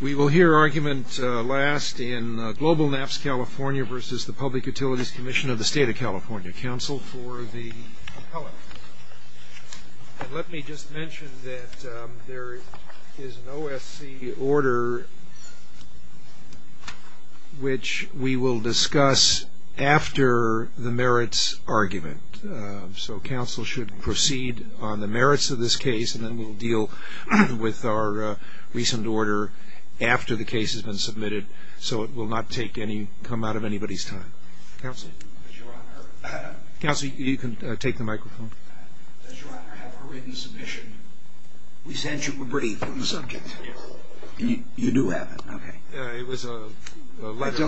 We will hear argument last in Global NAPs California v. Public Utilities Commission of the State of California. Counsel for the appellant. And let me just mention that there is an OSC order which we will discuss after the merits argument. So counsel should proceed on the merits of this case and then we'll deal with our recent order after the case has been submitted. So it will not take any, come out of anybody's time. Counsel, you can take the microphone. Does your honor have a written submission? We sent you a brief on the subject. You do have it. Okay.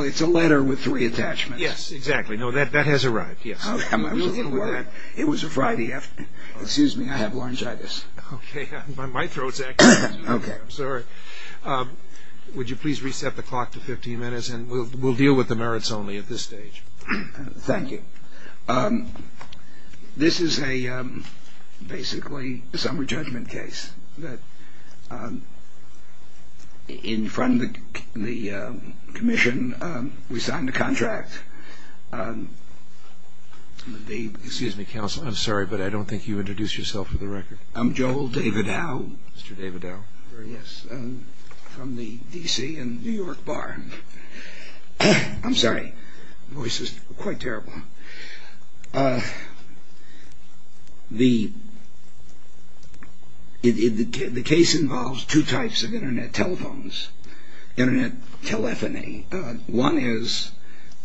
It's a letter with three attachments. Yes, exactly. No, that has arrived. Yes. I'm sorry. Excuse me. I have laryngitis. Okay. My throat's acting up. Okay. I'm sorry. Would you please reset the clock to 15 minutes and we'll deal with the merits only at this stage. Thank you. This is a basically a summary judgment case that in front of the commission we signed a contract. Excuse me, counsel. I'm sorry, but I don't think you introduced yourself for the record. I'm Joel Davidow. Mr. Davidow. Yes. From the D.C. and New York bar. I'm sorry. My voice is quite terrible. The case involves two types of internet telephones, internet telephony. One is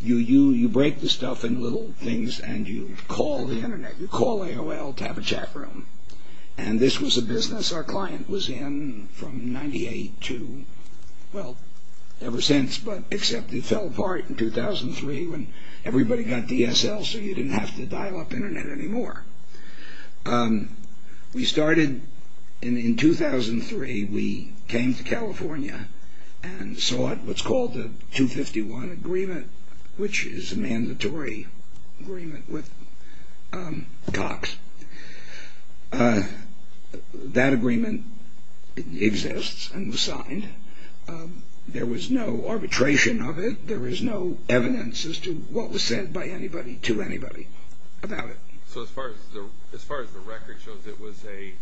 you break the stuff in little things and you call the internet. You call AOL to have a chat room. And this was a business our client was in from 98 to, well, ever since, but except it fell apart in 2003 when everybody got DSL so you didn't have to dial up internet anymore. We started in 2003. We came to California and saw what's called the 251 agreement, which is a mandatory agreement with Cox. That agreement exists and was signed. There was no arbitration of it. There was no evidence as to what was said by anybody to anybody about it. So as far as the record shows, it was a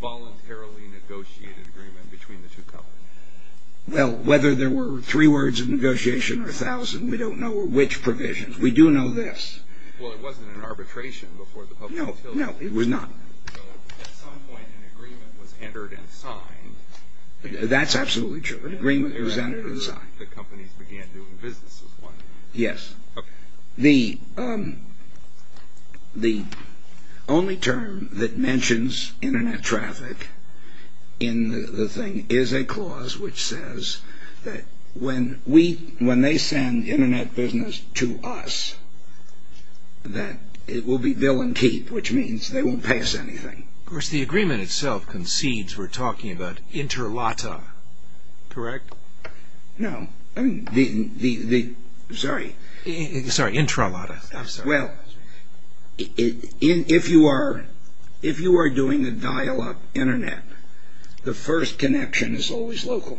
voluntarily negotiated agreement between the two companies. Well, whether there were three words of negotiation or a thousand, we don't know which provisions. We do know this. Well, it wasn't an arbitration before the public utility. No, no, it was not. At some point an agreement was entered and signed. That's absolutely true. An agreement was entered and signed. The companies began doing business with one another. Yes. The only term that mentions internet traffic in the thing is a clause which says that when we, when they send internet business to us, that it will be bill and keep, which means they won't pay us anything. Of course the agreement itself concedes we're talking about intralata, correct? No. Sorry. Sorry, intralata. I'm sorry. Well, if you are doing a dial-up internet, the first connection is always local.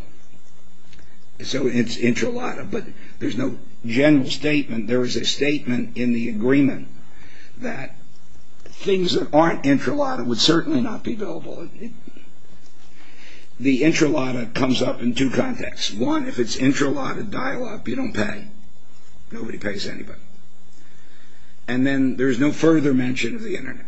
So it's intralata, but there's no general statement. There is a statement in the agreement that things that aren't intralata would certainly not be billable. The intralata comes up in two contexts. One, if it's intralata dial-up, you don't pay. Nobody pays anybody. And then there's no further mention of the internet.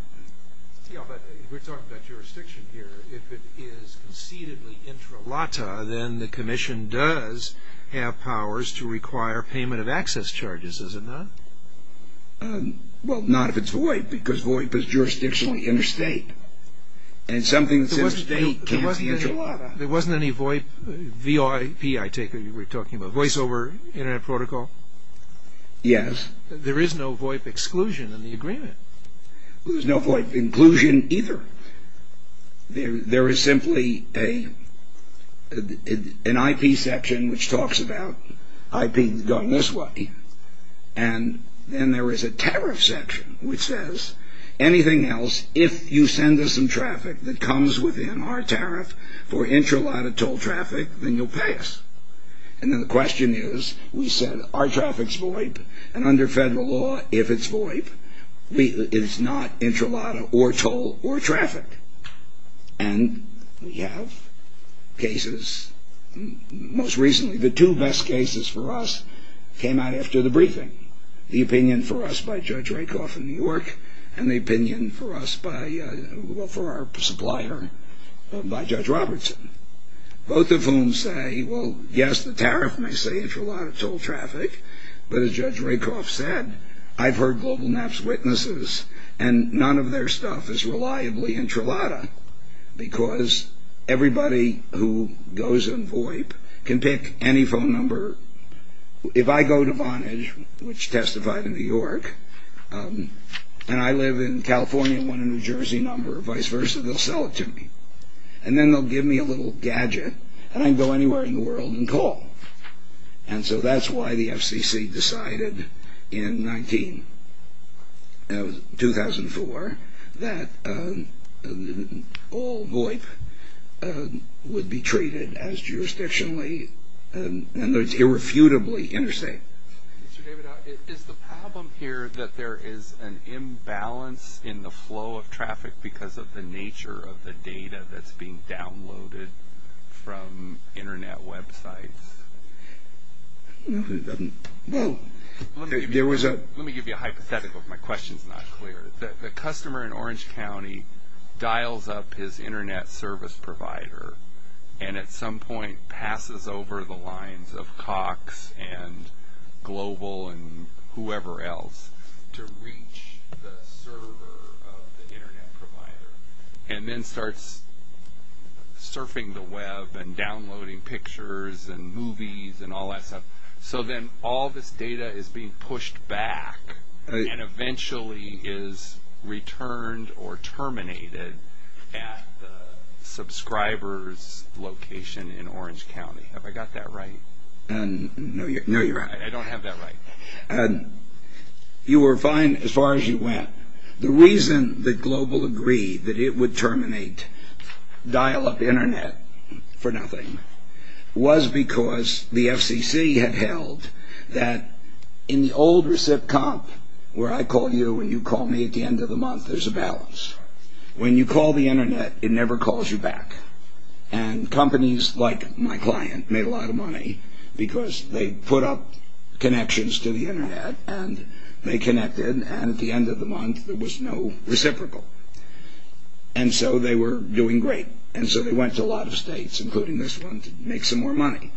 Yeah, but we're talking about jurisdiction here. If it is concededly intralata, then the commission does have powers to require payment of access charges, is it not? Well, not if it's VoIP, because VoIP is jurisdictionally interstate. And something that says state can't be intralata. There wasn't any VoIP, VOIP I take it you were talking about, voice over internet protocol? Yes. There is no VoIP exclusion in the agreement. There's no VoIP inclusion either. There is simply an IP section which talks about IP going this way, and then there is a tariff section which says anything else, if you send us some traffic that comes within our tariff for intralata toll traffic, then you'll pay us. And then the question is, we said our traffic's VoIP, and under federal law, if it's VoIP, it's not intralata or toll or traffic. And we have cases, most recently the two best cases for us came out after the briefing. The opinion for us by Judge Rakoff in New York, and the opinion for us by, well, for our supplier by Judge Robertson. Both of whom say, well, yes, the tariff may say intralata toll traffic, but as Judge Rakoff said, I've heard GlobalNap's witnesses, and none of their stuff is reliably intralata, because everybody who goes in VoIP can pick any phone number. If I go to Vonage, which testified in New York, and I live in California and want a New Jersey number, or vice versa, they'll sell it to me. And then they'll give me a little gadget, and I can go anywhere in the world and call. And so that's why the FCC decided in 19, 2004, that all VoIP would be treated as jurisdictionally and irrefutably interstate. Mr. David, is the problem here that there is an imbalance in the flow of traffic because of the nature of the data that's being downloaded from Internet websites? No, it doesn't. Let me give you a hypothetical, if my question is not clear. The customer in Orange County dials up his Internet service provider, and at some point passes over the lines of Cox and Global and whoever else, to reach the server of the Internet provider, and then starts surfing the web and downloading pictures and movies and all that stuff. So then all this data is being pushed back, and eventually is returned or terminated at the subscriber's location in Orange County. Have I got that right? No, you're right. I don't have that right. You were fine as far as you went. The reason that Global agreed that it would terminate dial-up Internet for nothing was because the FCC had held that in the old recip comp, where I call you and you call me at the end of the month, there's a balance. When you call the put up connections to the Internet, and they connected, and at the end of the month, there was no reciprocal. And so they were doing great. And so they went to a lot of states, including this one, to make some more money.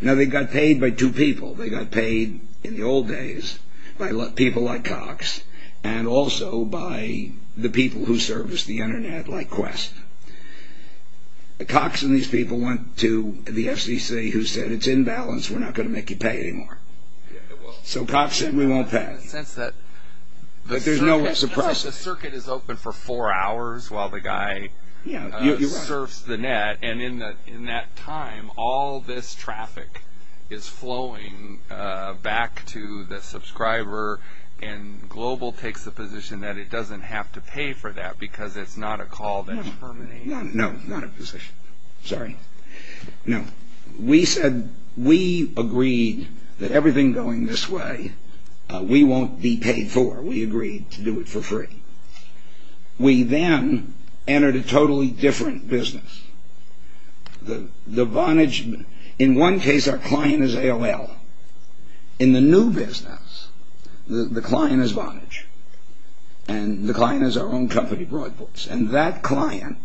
Now, they got paid by two people. They got paid in the old days by people like Cox, and also by the people who serviced the Internet, like Quest. Cox and these people went to the balance. We're not going to make you pay anymore. So Cox said, we won't pay. But there's no reciprocity. The circuit is open for four hours while the guy serves the net, and in that time, all this traffic is flowing back to the subscriber, and Global takes the position that it doesn't have to pay for that because it's not a call that terminates. No, not a position. Sorry. No. We said, we agreed that everything going this way, we won't be paid for. We agreed to do it for free. We then entered a totally different business. The Vonage, in one case, our client is AOL. In the new business, the client is Vonage, and the client is our own company, Broadports. And that client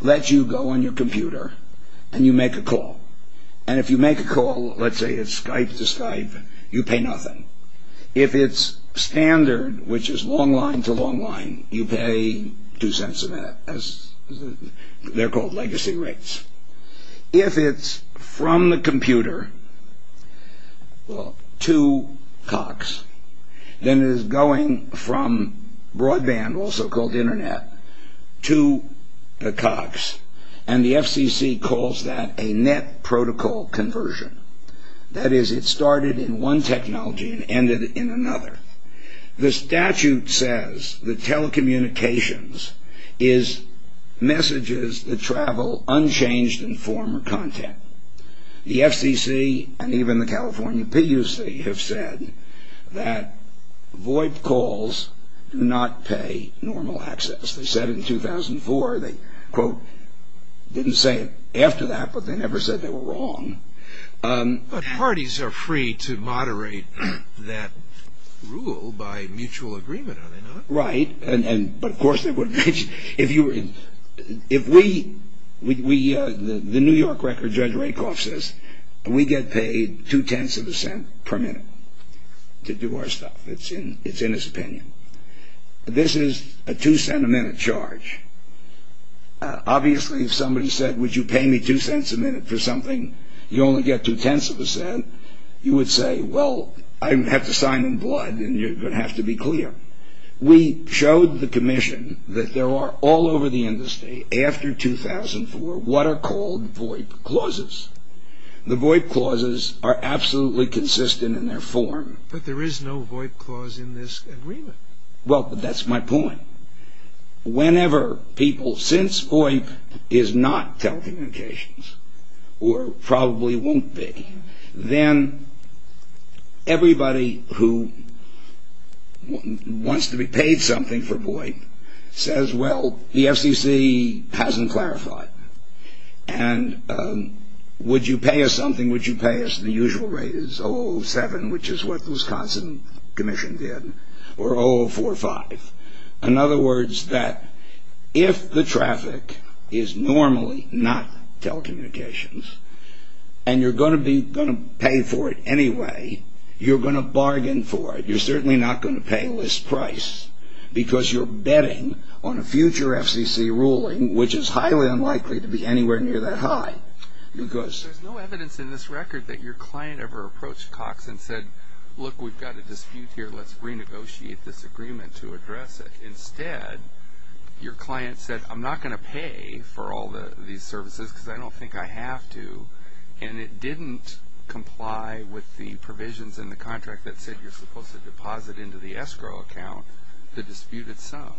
lets you go on your computer and you make a call. And if you make a call, let's say it's Skype to Skype, you pay nothing. If it's standard, which is long line to long line, you pay two cents a minute. They're called legacy rates. If it's from the computer to Cox, then it is going from broadband, also called internet, to the Cox, and the FCC calls that a net protocol conversion. That is, it started in one technology and ended in another. The statute says that telecommunications is messages that travel unchanged in form or content. The FCC and even the California PUC have said that VoIP calls do not pay normal access. They said in 2004, they quote, didn't say it after that, but they never said they were wrong. But parties are free to moderate that rule by mutual agreement, are they not? Right, but of course they wouldn't. The New York record judge Rakoff says, we get paid two tenths of a cent per minute to do our stuff. It's in his opinion. This is a two cent a minute charge. Obviously, if somebody said, would you pay me two cents a minute for something, you only get two tenths of a cent, you would say, well, I have to sign in blood and you're going to have to be clear. We showed the commission that there are all over the industry, after 2004, what are called VoIP clauses. The VoIP clauses are absolutely consistent in their form. But there is no VoIP clause in this agreement. Well, that's my point. Whenever people, since VoIP is not telecommunications, or probably won't be, then everybody who wants to be paid something for VoIP says, well, the FCC hasn't clarified. And would you pay us something, would you pay us the usual rate, which is 007, which is what the Wisconsin commission did, or 0045. In other words, that if the traffic is normally not telecommunications, and you're going to pay for it anyway, you're going to bargain for it. You're certainly not going to pay list price, because you're betting on a future FCC ruling, which is highly unlikely to be anywhere near that high. There's no evidence in this record that your client ever approached Cox and said, look, we've got a dispute here, let's renegotiate this agreement to address it. Instead, your client said, I'm not going to pay for all these services, because I don't think I have to. And it didn't comply with the provisions in the contract that said you're supposed to deposit into the escrow account the disputed sum.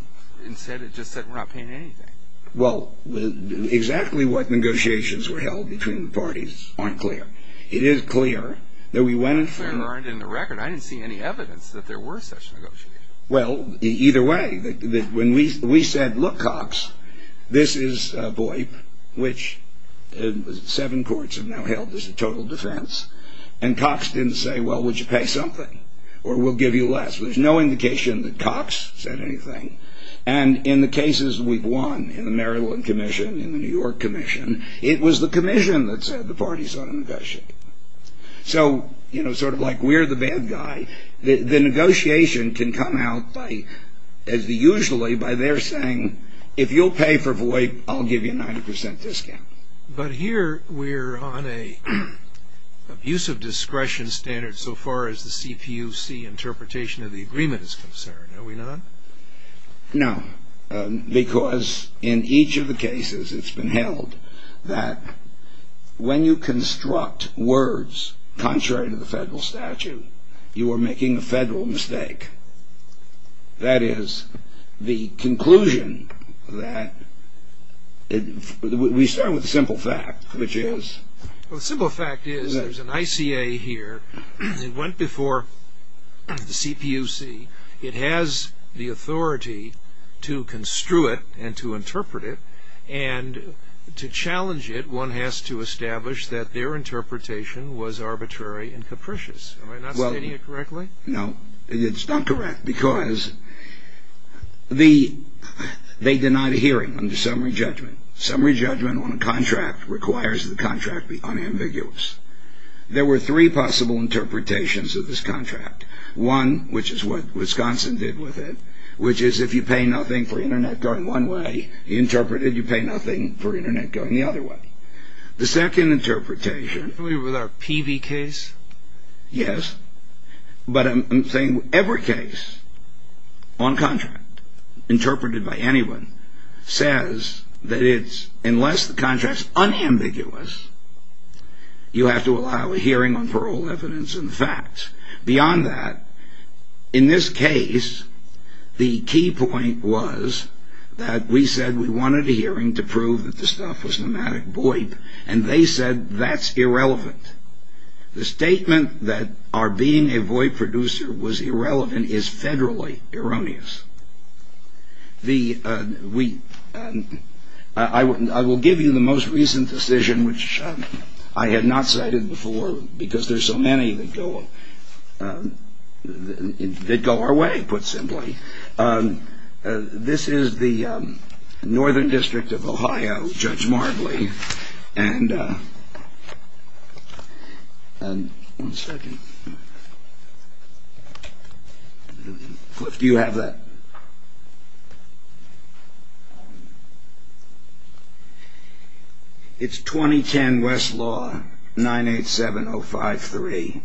Instead, it just said we're not paying anything. Well, exactly what negotiations were held between the parties aren't clear. It is clear that we went in for... I didn't see any evidence that there were such negotiations. Well, either way, when we said, look, Cox, this is VOIP, which seven courts have now held as a total defense, and Cox didn't say, well, would you pay something, or we'll give you less. There's no indication that Cox said anything. And in the cases we've won, in the Maryland Commission, in the New York Commission, it was the Commission that said the parties ought to negotiate. So, you know, sort of like we're the bad guy, the negotiation can come out, as usually, by their saying, if you'll pay for VOIP, I'll give you a 90% discount. But here we're on an abuse of discretion standard so far as the CPUC interpretation of the agreement is concerned. Are we not? No, because in each of the cases it's been held that when you construct words contrary to the federal statute, you are making a federal mistake. That is the conclusion that we start with the simple fact, which is? Well, the simple fact is there's an ICA here that went before the CPUC. It has the authority to construe it and to interpret it, and to challenge it, one has to establish that their interpretation was arbitrary and capricious. Am I not stating it correctly? No, it's not correct, because they denied a hearing under summary judgment. Summary judgment on a contract requires the contract be unambiguous. There were three possible interpretations of this contract. One, which is what Wisconsin did with it, which is if you pay nothing for Internet going one way, you interpret it, you pay nothing for Internet going the other way. The second interpretation... Are we with our PV case? Yes, but I'm saying every case on contract, interpreted by anyone, says that unless the contract's unambiguous, you have to allow a hearing on parole, evidence, and facts. Beyond that, in this case, the key point was that we said we wanted a hearing to prove that the stuff was nomadic boip, and they said that's irrelevant. The statement that our being a boip producer was irrelevant is federally erroneous. I will give you the most recent decision, which I had not cited before, because there's so many that go our way, put simply. This is the Northern District of Ohio, Judge Marbley, and... One second. Do you have that? It's 2010 Westlaw 987053,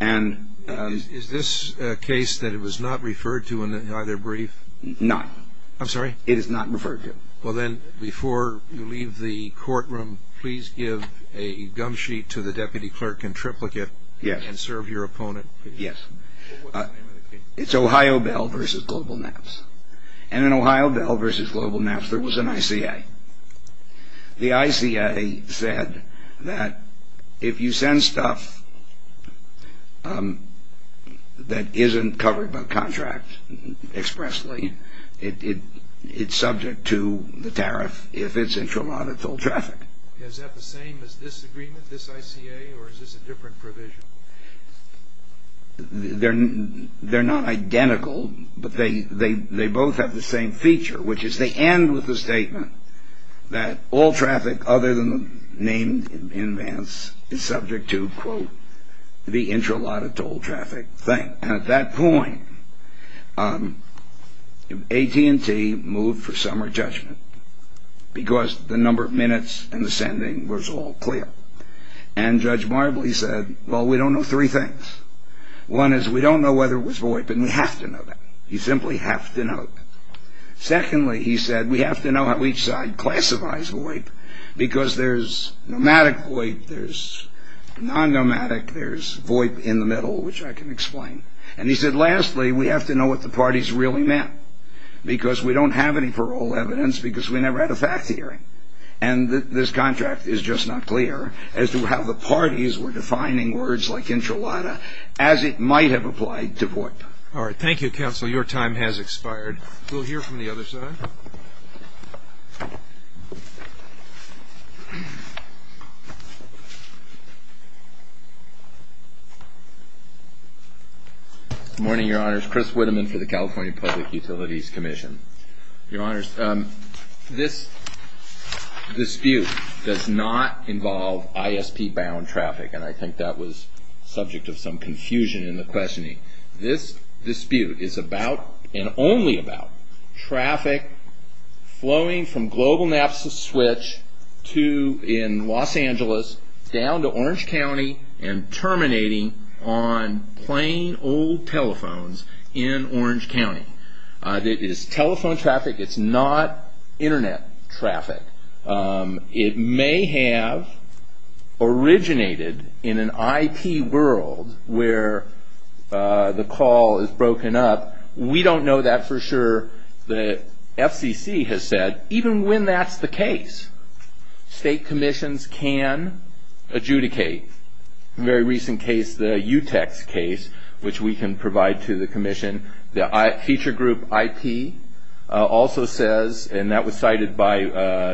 and... Is this a case that it was not referred to in either brief? No. I'm sorry? It is not referred to. Well, then, before you leave the courtroom, please give a gum sheet to the deputy clerk in triplicate... Yes. ...and serve your opponent. Yes. What's the name of the case? It's Ohio Bell v. Global Naps. And in Ohio Bell v. Global Naps, there was an ICA. The ICA said that if you send stuff that isn't covered by contract expressly, it's subject to the tariff if it's in traumatic toll traffic. Is that the same as this agreement, this ICA, or is this a different provision? They're not identical, but they both have the same feature, which is they end with a statement that all traffic other than the name in advance is subject to, quote, the intra-lot of toll traffic thing. And at that point, AT&T moved for summary judgment because the number of minutes and the sending was all clear. And Judge Marbley said, well, we don't know three things. One is we don't know whether it was void, but we have to know that. You simply have to know that. Secondly, he said, we have to know how each side classifies void because there's nomadic void, there's non-nomadic, there's void in the middle, which I can explain. And he said, lastly, we have to know what the parties really meant because we don't have any parole evidence because we never had a fact hearing. And this contract is just not clear as to how the parties were defining words like intra-lot of as it might have applied to void. All right. Thank you, counsel. Your time has expired. We'll hear from the other side. Good morning, Your Honors. Chris Witteman for the California Public Utilities Commission. Your Honors, this dispute does not involve ISP-bound traffic, and I think that was subject of some confusion in the questioning. This dispute is about and only about traffic flowing from Global Naps of Switch to in Los Angeles down to Orange County and terminating on plain old telephones in Orange County. It is telephone traffic. It's not Internet traffic. It may have originated in an IP world where the call is broken up. We don't know that for sure. The FCC has said even when that's the case, state commissions can adjudicate. A very recent case, the UTEX case, which we can provide to the commission, the feature group IP also says, and that was cited by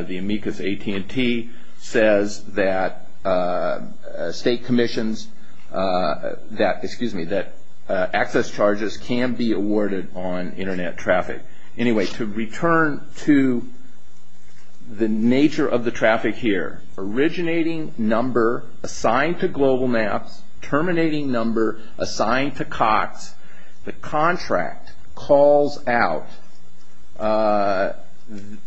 the amicus AT&T, says that access charges can be awarded on Internet traffic. Anyway, to return to the nature of the traffic here, originating number assigned to Global Naps, terminating number assigned to Cox, the contract calls out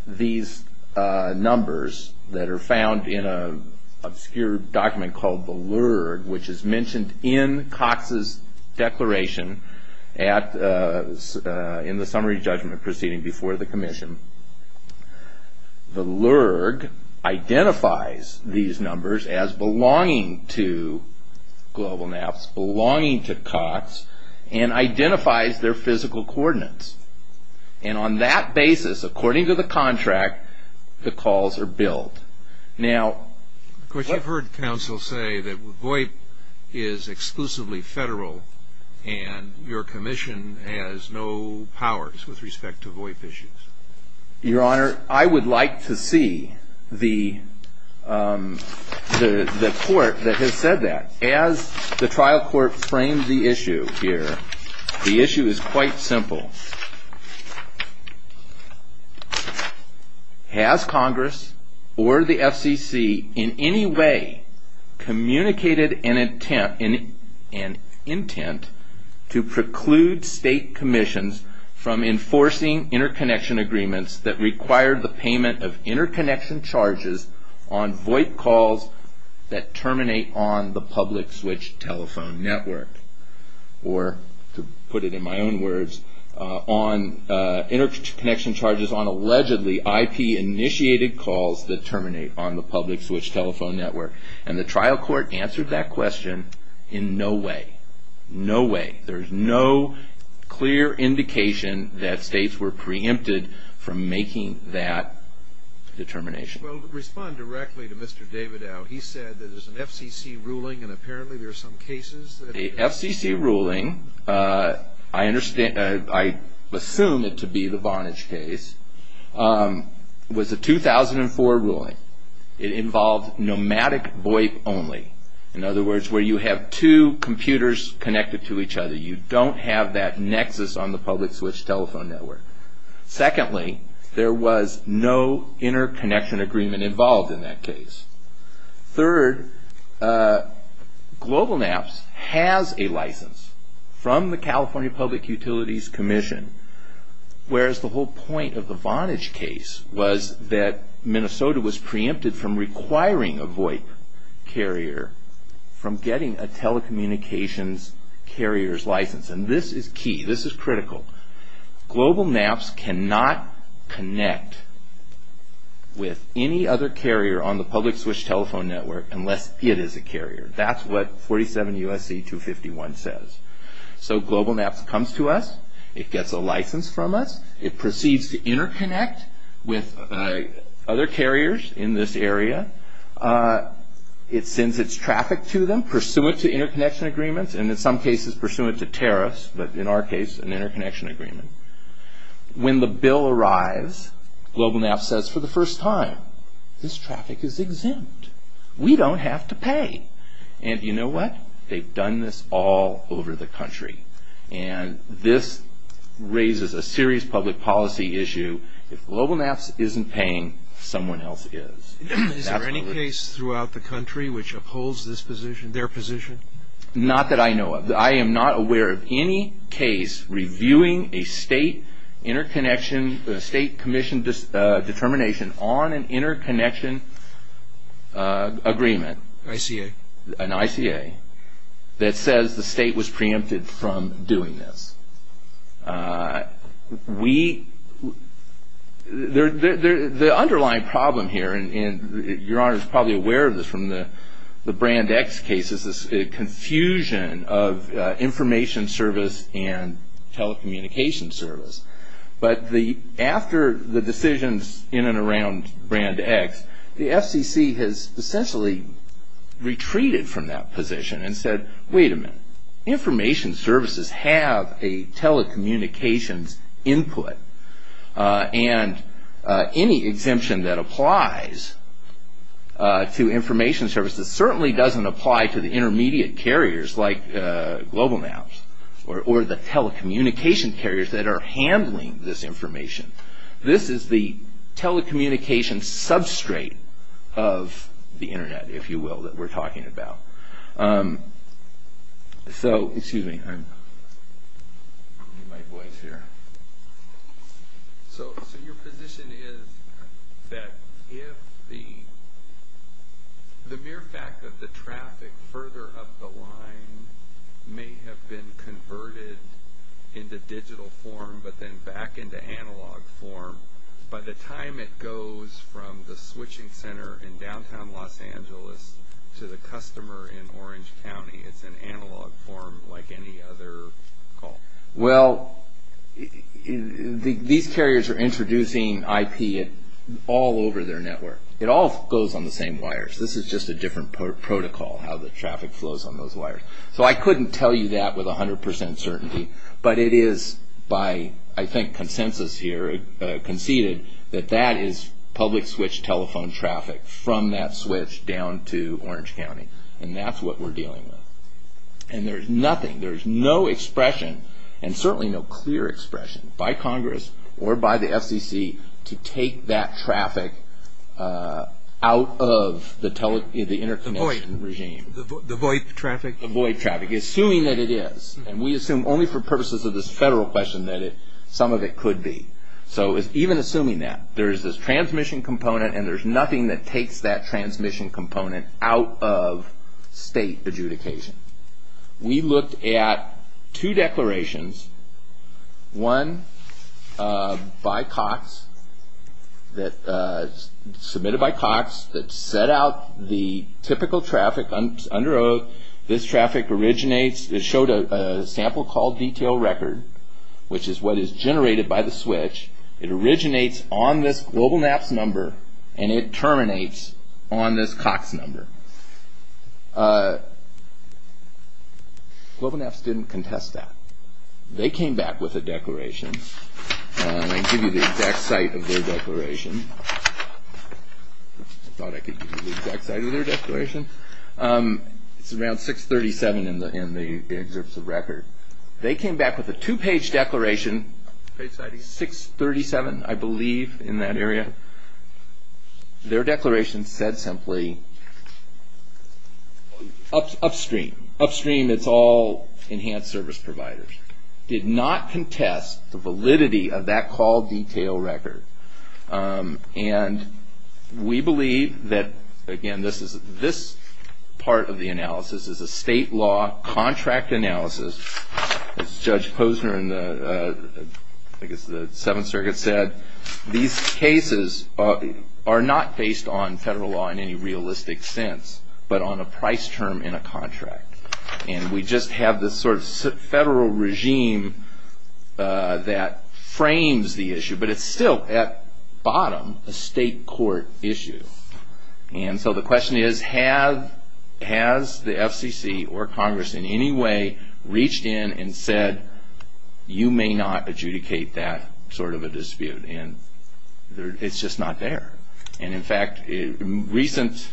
these numbers that are found in an obscure document called the LURG, which is mentioned in Cox's declaration in the summary judgment proceeding before the commission. The LURG identifies these numbers as belonging to Global Naps, belonging to Cox, and identifies their physical coordinates. On that basis, according to the contract, the calls are billed. I've heard counsel say that VOIP is exclusively federal and your commission has no powers with respect to VOIP issues. Your Honor, I would like to see the court that has said that. As the trial court framed the issue here, the issue is quite simple. Has Congress or the FCC in any way communicated an intent to preclude state commissions from enforcing interconnection agreements that require the payment of interconnection charges on VOIP calls that terminate on the public switch telephone network? Or, to put it in my own words, interconnection charges on allegedly IP-initiated calls that terminate on the public switch telephone network. And the trial court answered that question in no way. No way. There's no clear indication that states were preempted from making that determination. Well, respond directly to Mr. Davidow. He said that there's an FCC ruling and apparently there are some cases that... The FCC ruling, I assume it to be the Vonage case, was a 2004 ruling. It involved nomadic VOIP only. In other words, where you have two computers connected to each other. You don't have that nexus on the public switch telephone network. Secondly, there was no interconnection agreement involved in that case. Third, GlobalNaps has a license from the California Public Utilities Commission, whereas the whole point of the Vonage case was that Minnesota was preempted from requiring a VOIP carrier from getting a telecommunications carrier's license. And this is key. This is critical. GlobalNaps cannot connect with any other carrier on the public switch telephone network unless it is a carrier. That's what 47 U.S.C. 251 says. So GlobalNaps comes to us. It gets a license from us. It proceeds to interconnect with other carriers in this area. It sends its traffic to them pursuant to interconnection agreements and in some cases pursuant to tariffs, but in our case an interconnection agreement. When the bill arrives, GlobalNaps says for the first time, this traffic is exempt. We don't have to pay. And you know what? They've done this all over the country. And this raises a serious public policy issue. If GlobalNaps isn't paying, someone else is. Is there any case throughout the country which upholds their position? Not that I know of. I am not aware of any case reviewing a state commission determination on an interconnection agreement. ICA. An ICA that says the state was preempted from doing this. The underlying problem here, and Your Honor is probably aware of this from the Brand X cases, is this confusion of information service and telecommunication service. But after the decisions in and around Brand X, the FCC has essentially retreated from that position and said, wait a minute. Information services have a telecommunications input. And any exemption that applies to information services certainly doesn't apply to the intermediate carriers like GlobalNaps or the telecommunication carriers that are handling this information. This is the telecommunication substrate of the Internet, if you will, that we're talking about. So, excuse me. So your position is that if the mere fact that the traffic further up the line may have been converted into digital form but then back into analog form, by the time it goes from the switching center in downtown Los Angeles to the customer in Orange County, it's in analog form like any other call? Well, these carriers are introducing IP all over their network. It all goes on the same wires. This is just a different protocol, how the traffic flows on those wires. So I couldn't tell you that with 100% certainty. But it is by, I think, consensus here conceded that that is public switch telephone traffic from that switch down to Orange County. And that's what we're dealing with. And there's nothing, there's no expression and certainly no clear expression by Congress or by the FCC to take that traffic out of the interconnection regime. The VoIP traffic? The VoIP traffic, assuming that it is. And we assume only for purposes of this federal question that some of it could be. So even assuming that, there's this transmission component and there's nothing that takes that transmission component out of state adjudication. We looked at two declarations, one by Cox, submitted by Cox, that set out the typical traffic under oath. This traffic originates, it showed a sample call detail record, which is what is generated by the switch. It originates on this GlobalNaps number and it terminates on this Cox number. GlobalNaps didn't contest that. They came back with a declaration. I can give you the exact site of their declaration. I thought I could give you the exact site of their declaration. It's around 637 in the excerpts of record. They came back with a two-page declaration, page 637, I believe, in that area. Their declaration said simply, upstream. Upstream, it's all enhanced service providers. Did not contest the validity of that call detail record. And we believe that, again, this part of the analysis is a state law contract analysis. As Judge Posner in the Seventh Circuit said, these cases are not based on federal law in any realistic sense, but on a price term in a contract. And we just have this sort of federal regime that frames the issue. But it's still, at bottom, a state court issue. And so the question is, has the FCC or Congress in any way reached in and said, you may not adjudicate that sort of a dispute? And it's just not there. And, in fact, recent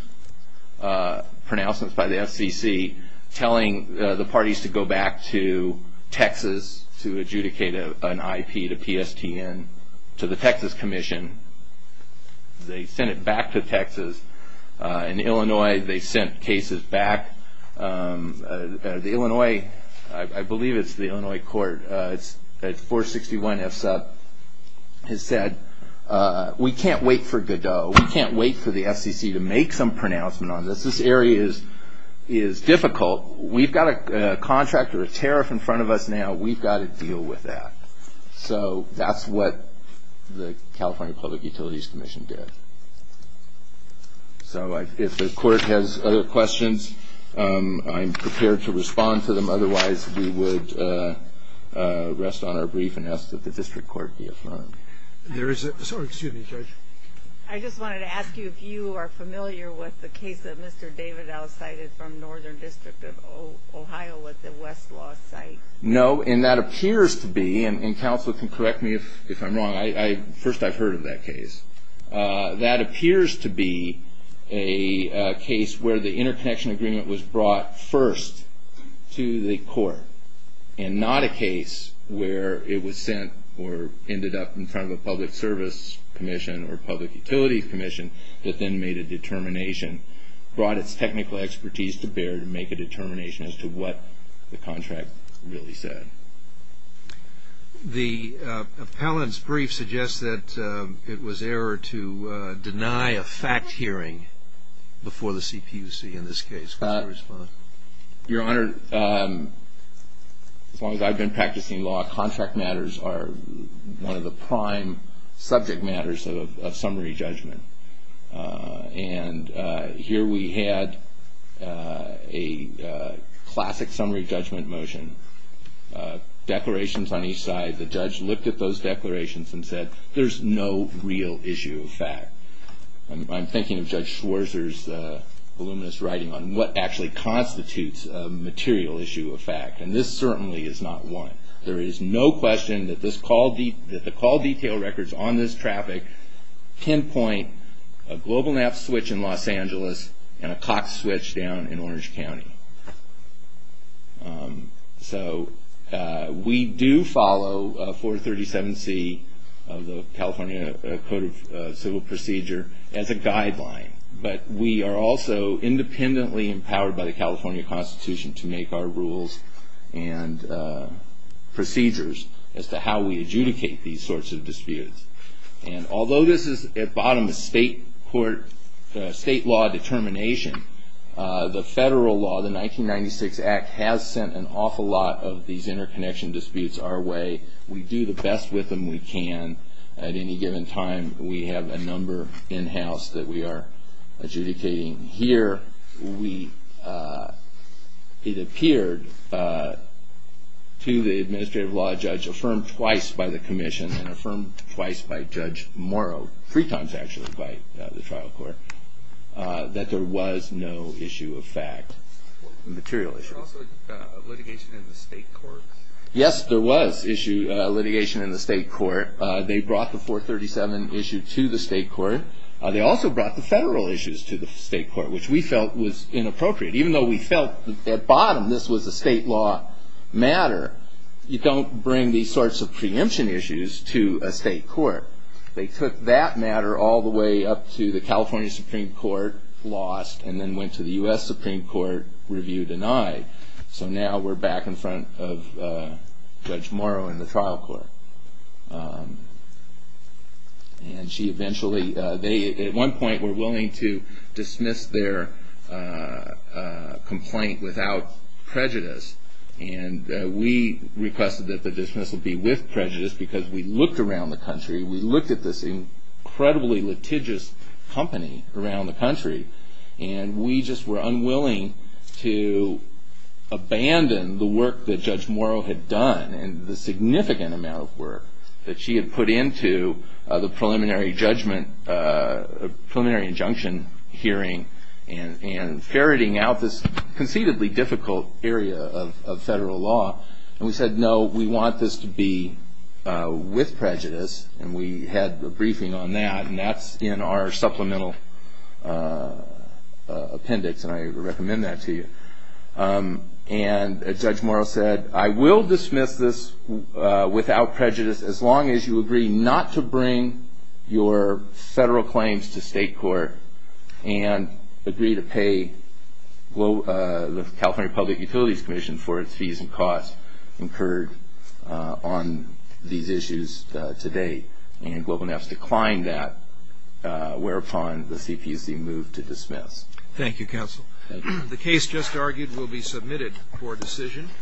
pronouncements by the FCC telling the parties to go back to Texas to adjudicate an IP to PSTN to the Texas Commission. They sent it back to Texas. In Illinois, they sent cases back. The Illinois, I believe it's the Illinois court, 461 FSUP, has said, we can't wait for Godot. We can't wait for the FCC to make some pronouncements on this. This area is difficult. We've got a contract or a tariff in front of us now. We've got to deal with that. So that's what the California Public Utilities Commission did. So if the court has other questions, I'm prepared to respond to them. Otherwise, we would rest on our brief and ask that the district court be affirmed. Excuse me, Judge. I just wanted to ask you if you are familiar with the case that Mr. Davidow cited from Northern District of Ohio with the Westlaw site. No, and that appears to be, and counsel can correct me if I'm wrong. First, I've heard of that case. That appears to be a case where the interconnection agreement was brought first to the court and not a case where it was sent or ended up in front of a public service commission or public utilities commission that then made a determination, brought its technical expertise to bear to make a determination as to what the contract really said. The appellant's brief suggests that it was error to deny a fact hearing before the CPUC in this case. Your Honor, as long as I've been practicing law, contract matters are one of the prime subject matters of summary judgment. And here we had a classic summary judgment motion, declarations on each side. The judge looked at those declarations and said, there's no real issue of fact. I'm thinking of Judge Schwarzer's voluminous writing on what actually constitutes a material issue of fact. And this certainly is not one. There is no question that the call detail records on this traffic pinpoint a GlobalNav switch in Los Angeles and a Cox switch down in Orange County. So we do follow 437C of the California Code of Civil Procedure as a guideline. But we are also independently empowered by the California Constitution to make our rules and procedures as to how we adjudicate these sorts of disputes. And although this is, at bottom, a state court, state law determination, the federal law, the 1996 Act, has sent an awful lot of these interconnection disputes our way. We do the best with them we can. At any given time, we have a number in-house that we are adjudicating. Here, it appeared to the administrative law judge, affirmed twice by the commission and affirmed twice by Judge Morrow, three times actually by the trial court, that there was no issue of fact, material issue. Was there also litigation in the state court? Yes, there was litigation in the state court. They brought the 437 issue to the state court. They also brought the federal issues to the state court, which we felt was inappropriate. Even though we felt, at bottom, this was a state law matter, you don't bring these sorts of preemption issues to a state court. They took that matter all the way up to the California Supreme Court, lost, and then went to the U.S. Supreme Court, review denied. So now we're back in front of Judge Morrow and the trial court. At one point, they were willing to dismiss their complaint without prejudice. We requested that the dismissal be with prejudice because we looked around the country, we looked at this incredibly litigious company around the country, and we just were unwilling to abandon the work that Judge Morrow had done and the significant amount of work that she had put into the preliminary injunction hearing and ferreting out this conceitedly difficult area of federal law. And we said, no, we want this to be with prejudice, and we had a briefing on that, and that's in our supplemental appendix, and I recommend that to you. And Judge Morrow said, I will dismiss this without prejudice as long as you agree not to bring your federal claims to state court and agree to pay the California Public Utilities Commission for its fees and costs incurred on these issues today. And Global Navs declined that, whereupon the CPC moved to dismiss. Thank you, counsel. Thank you. The case just argued will be submitted for decision.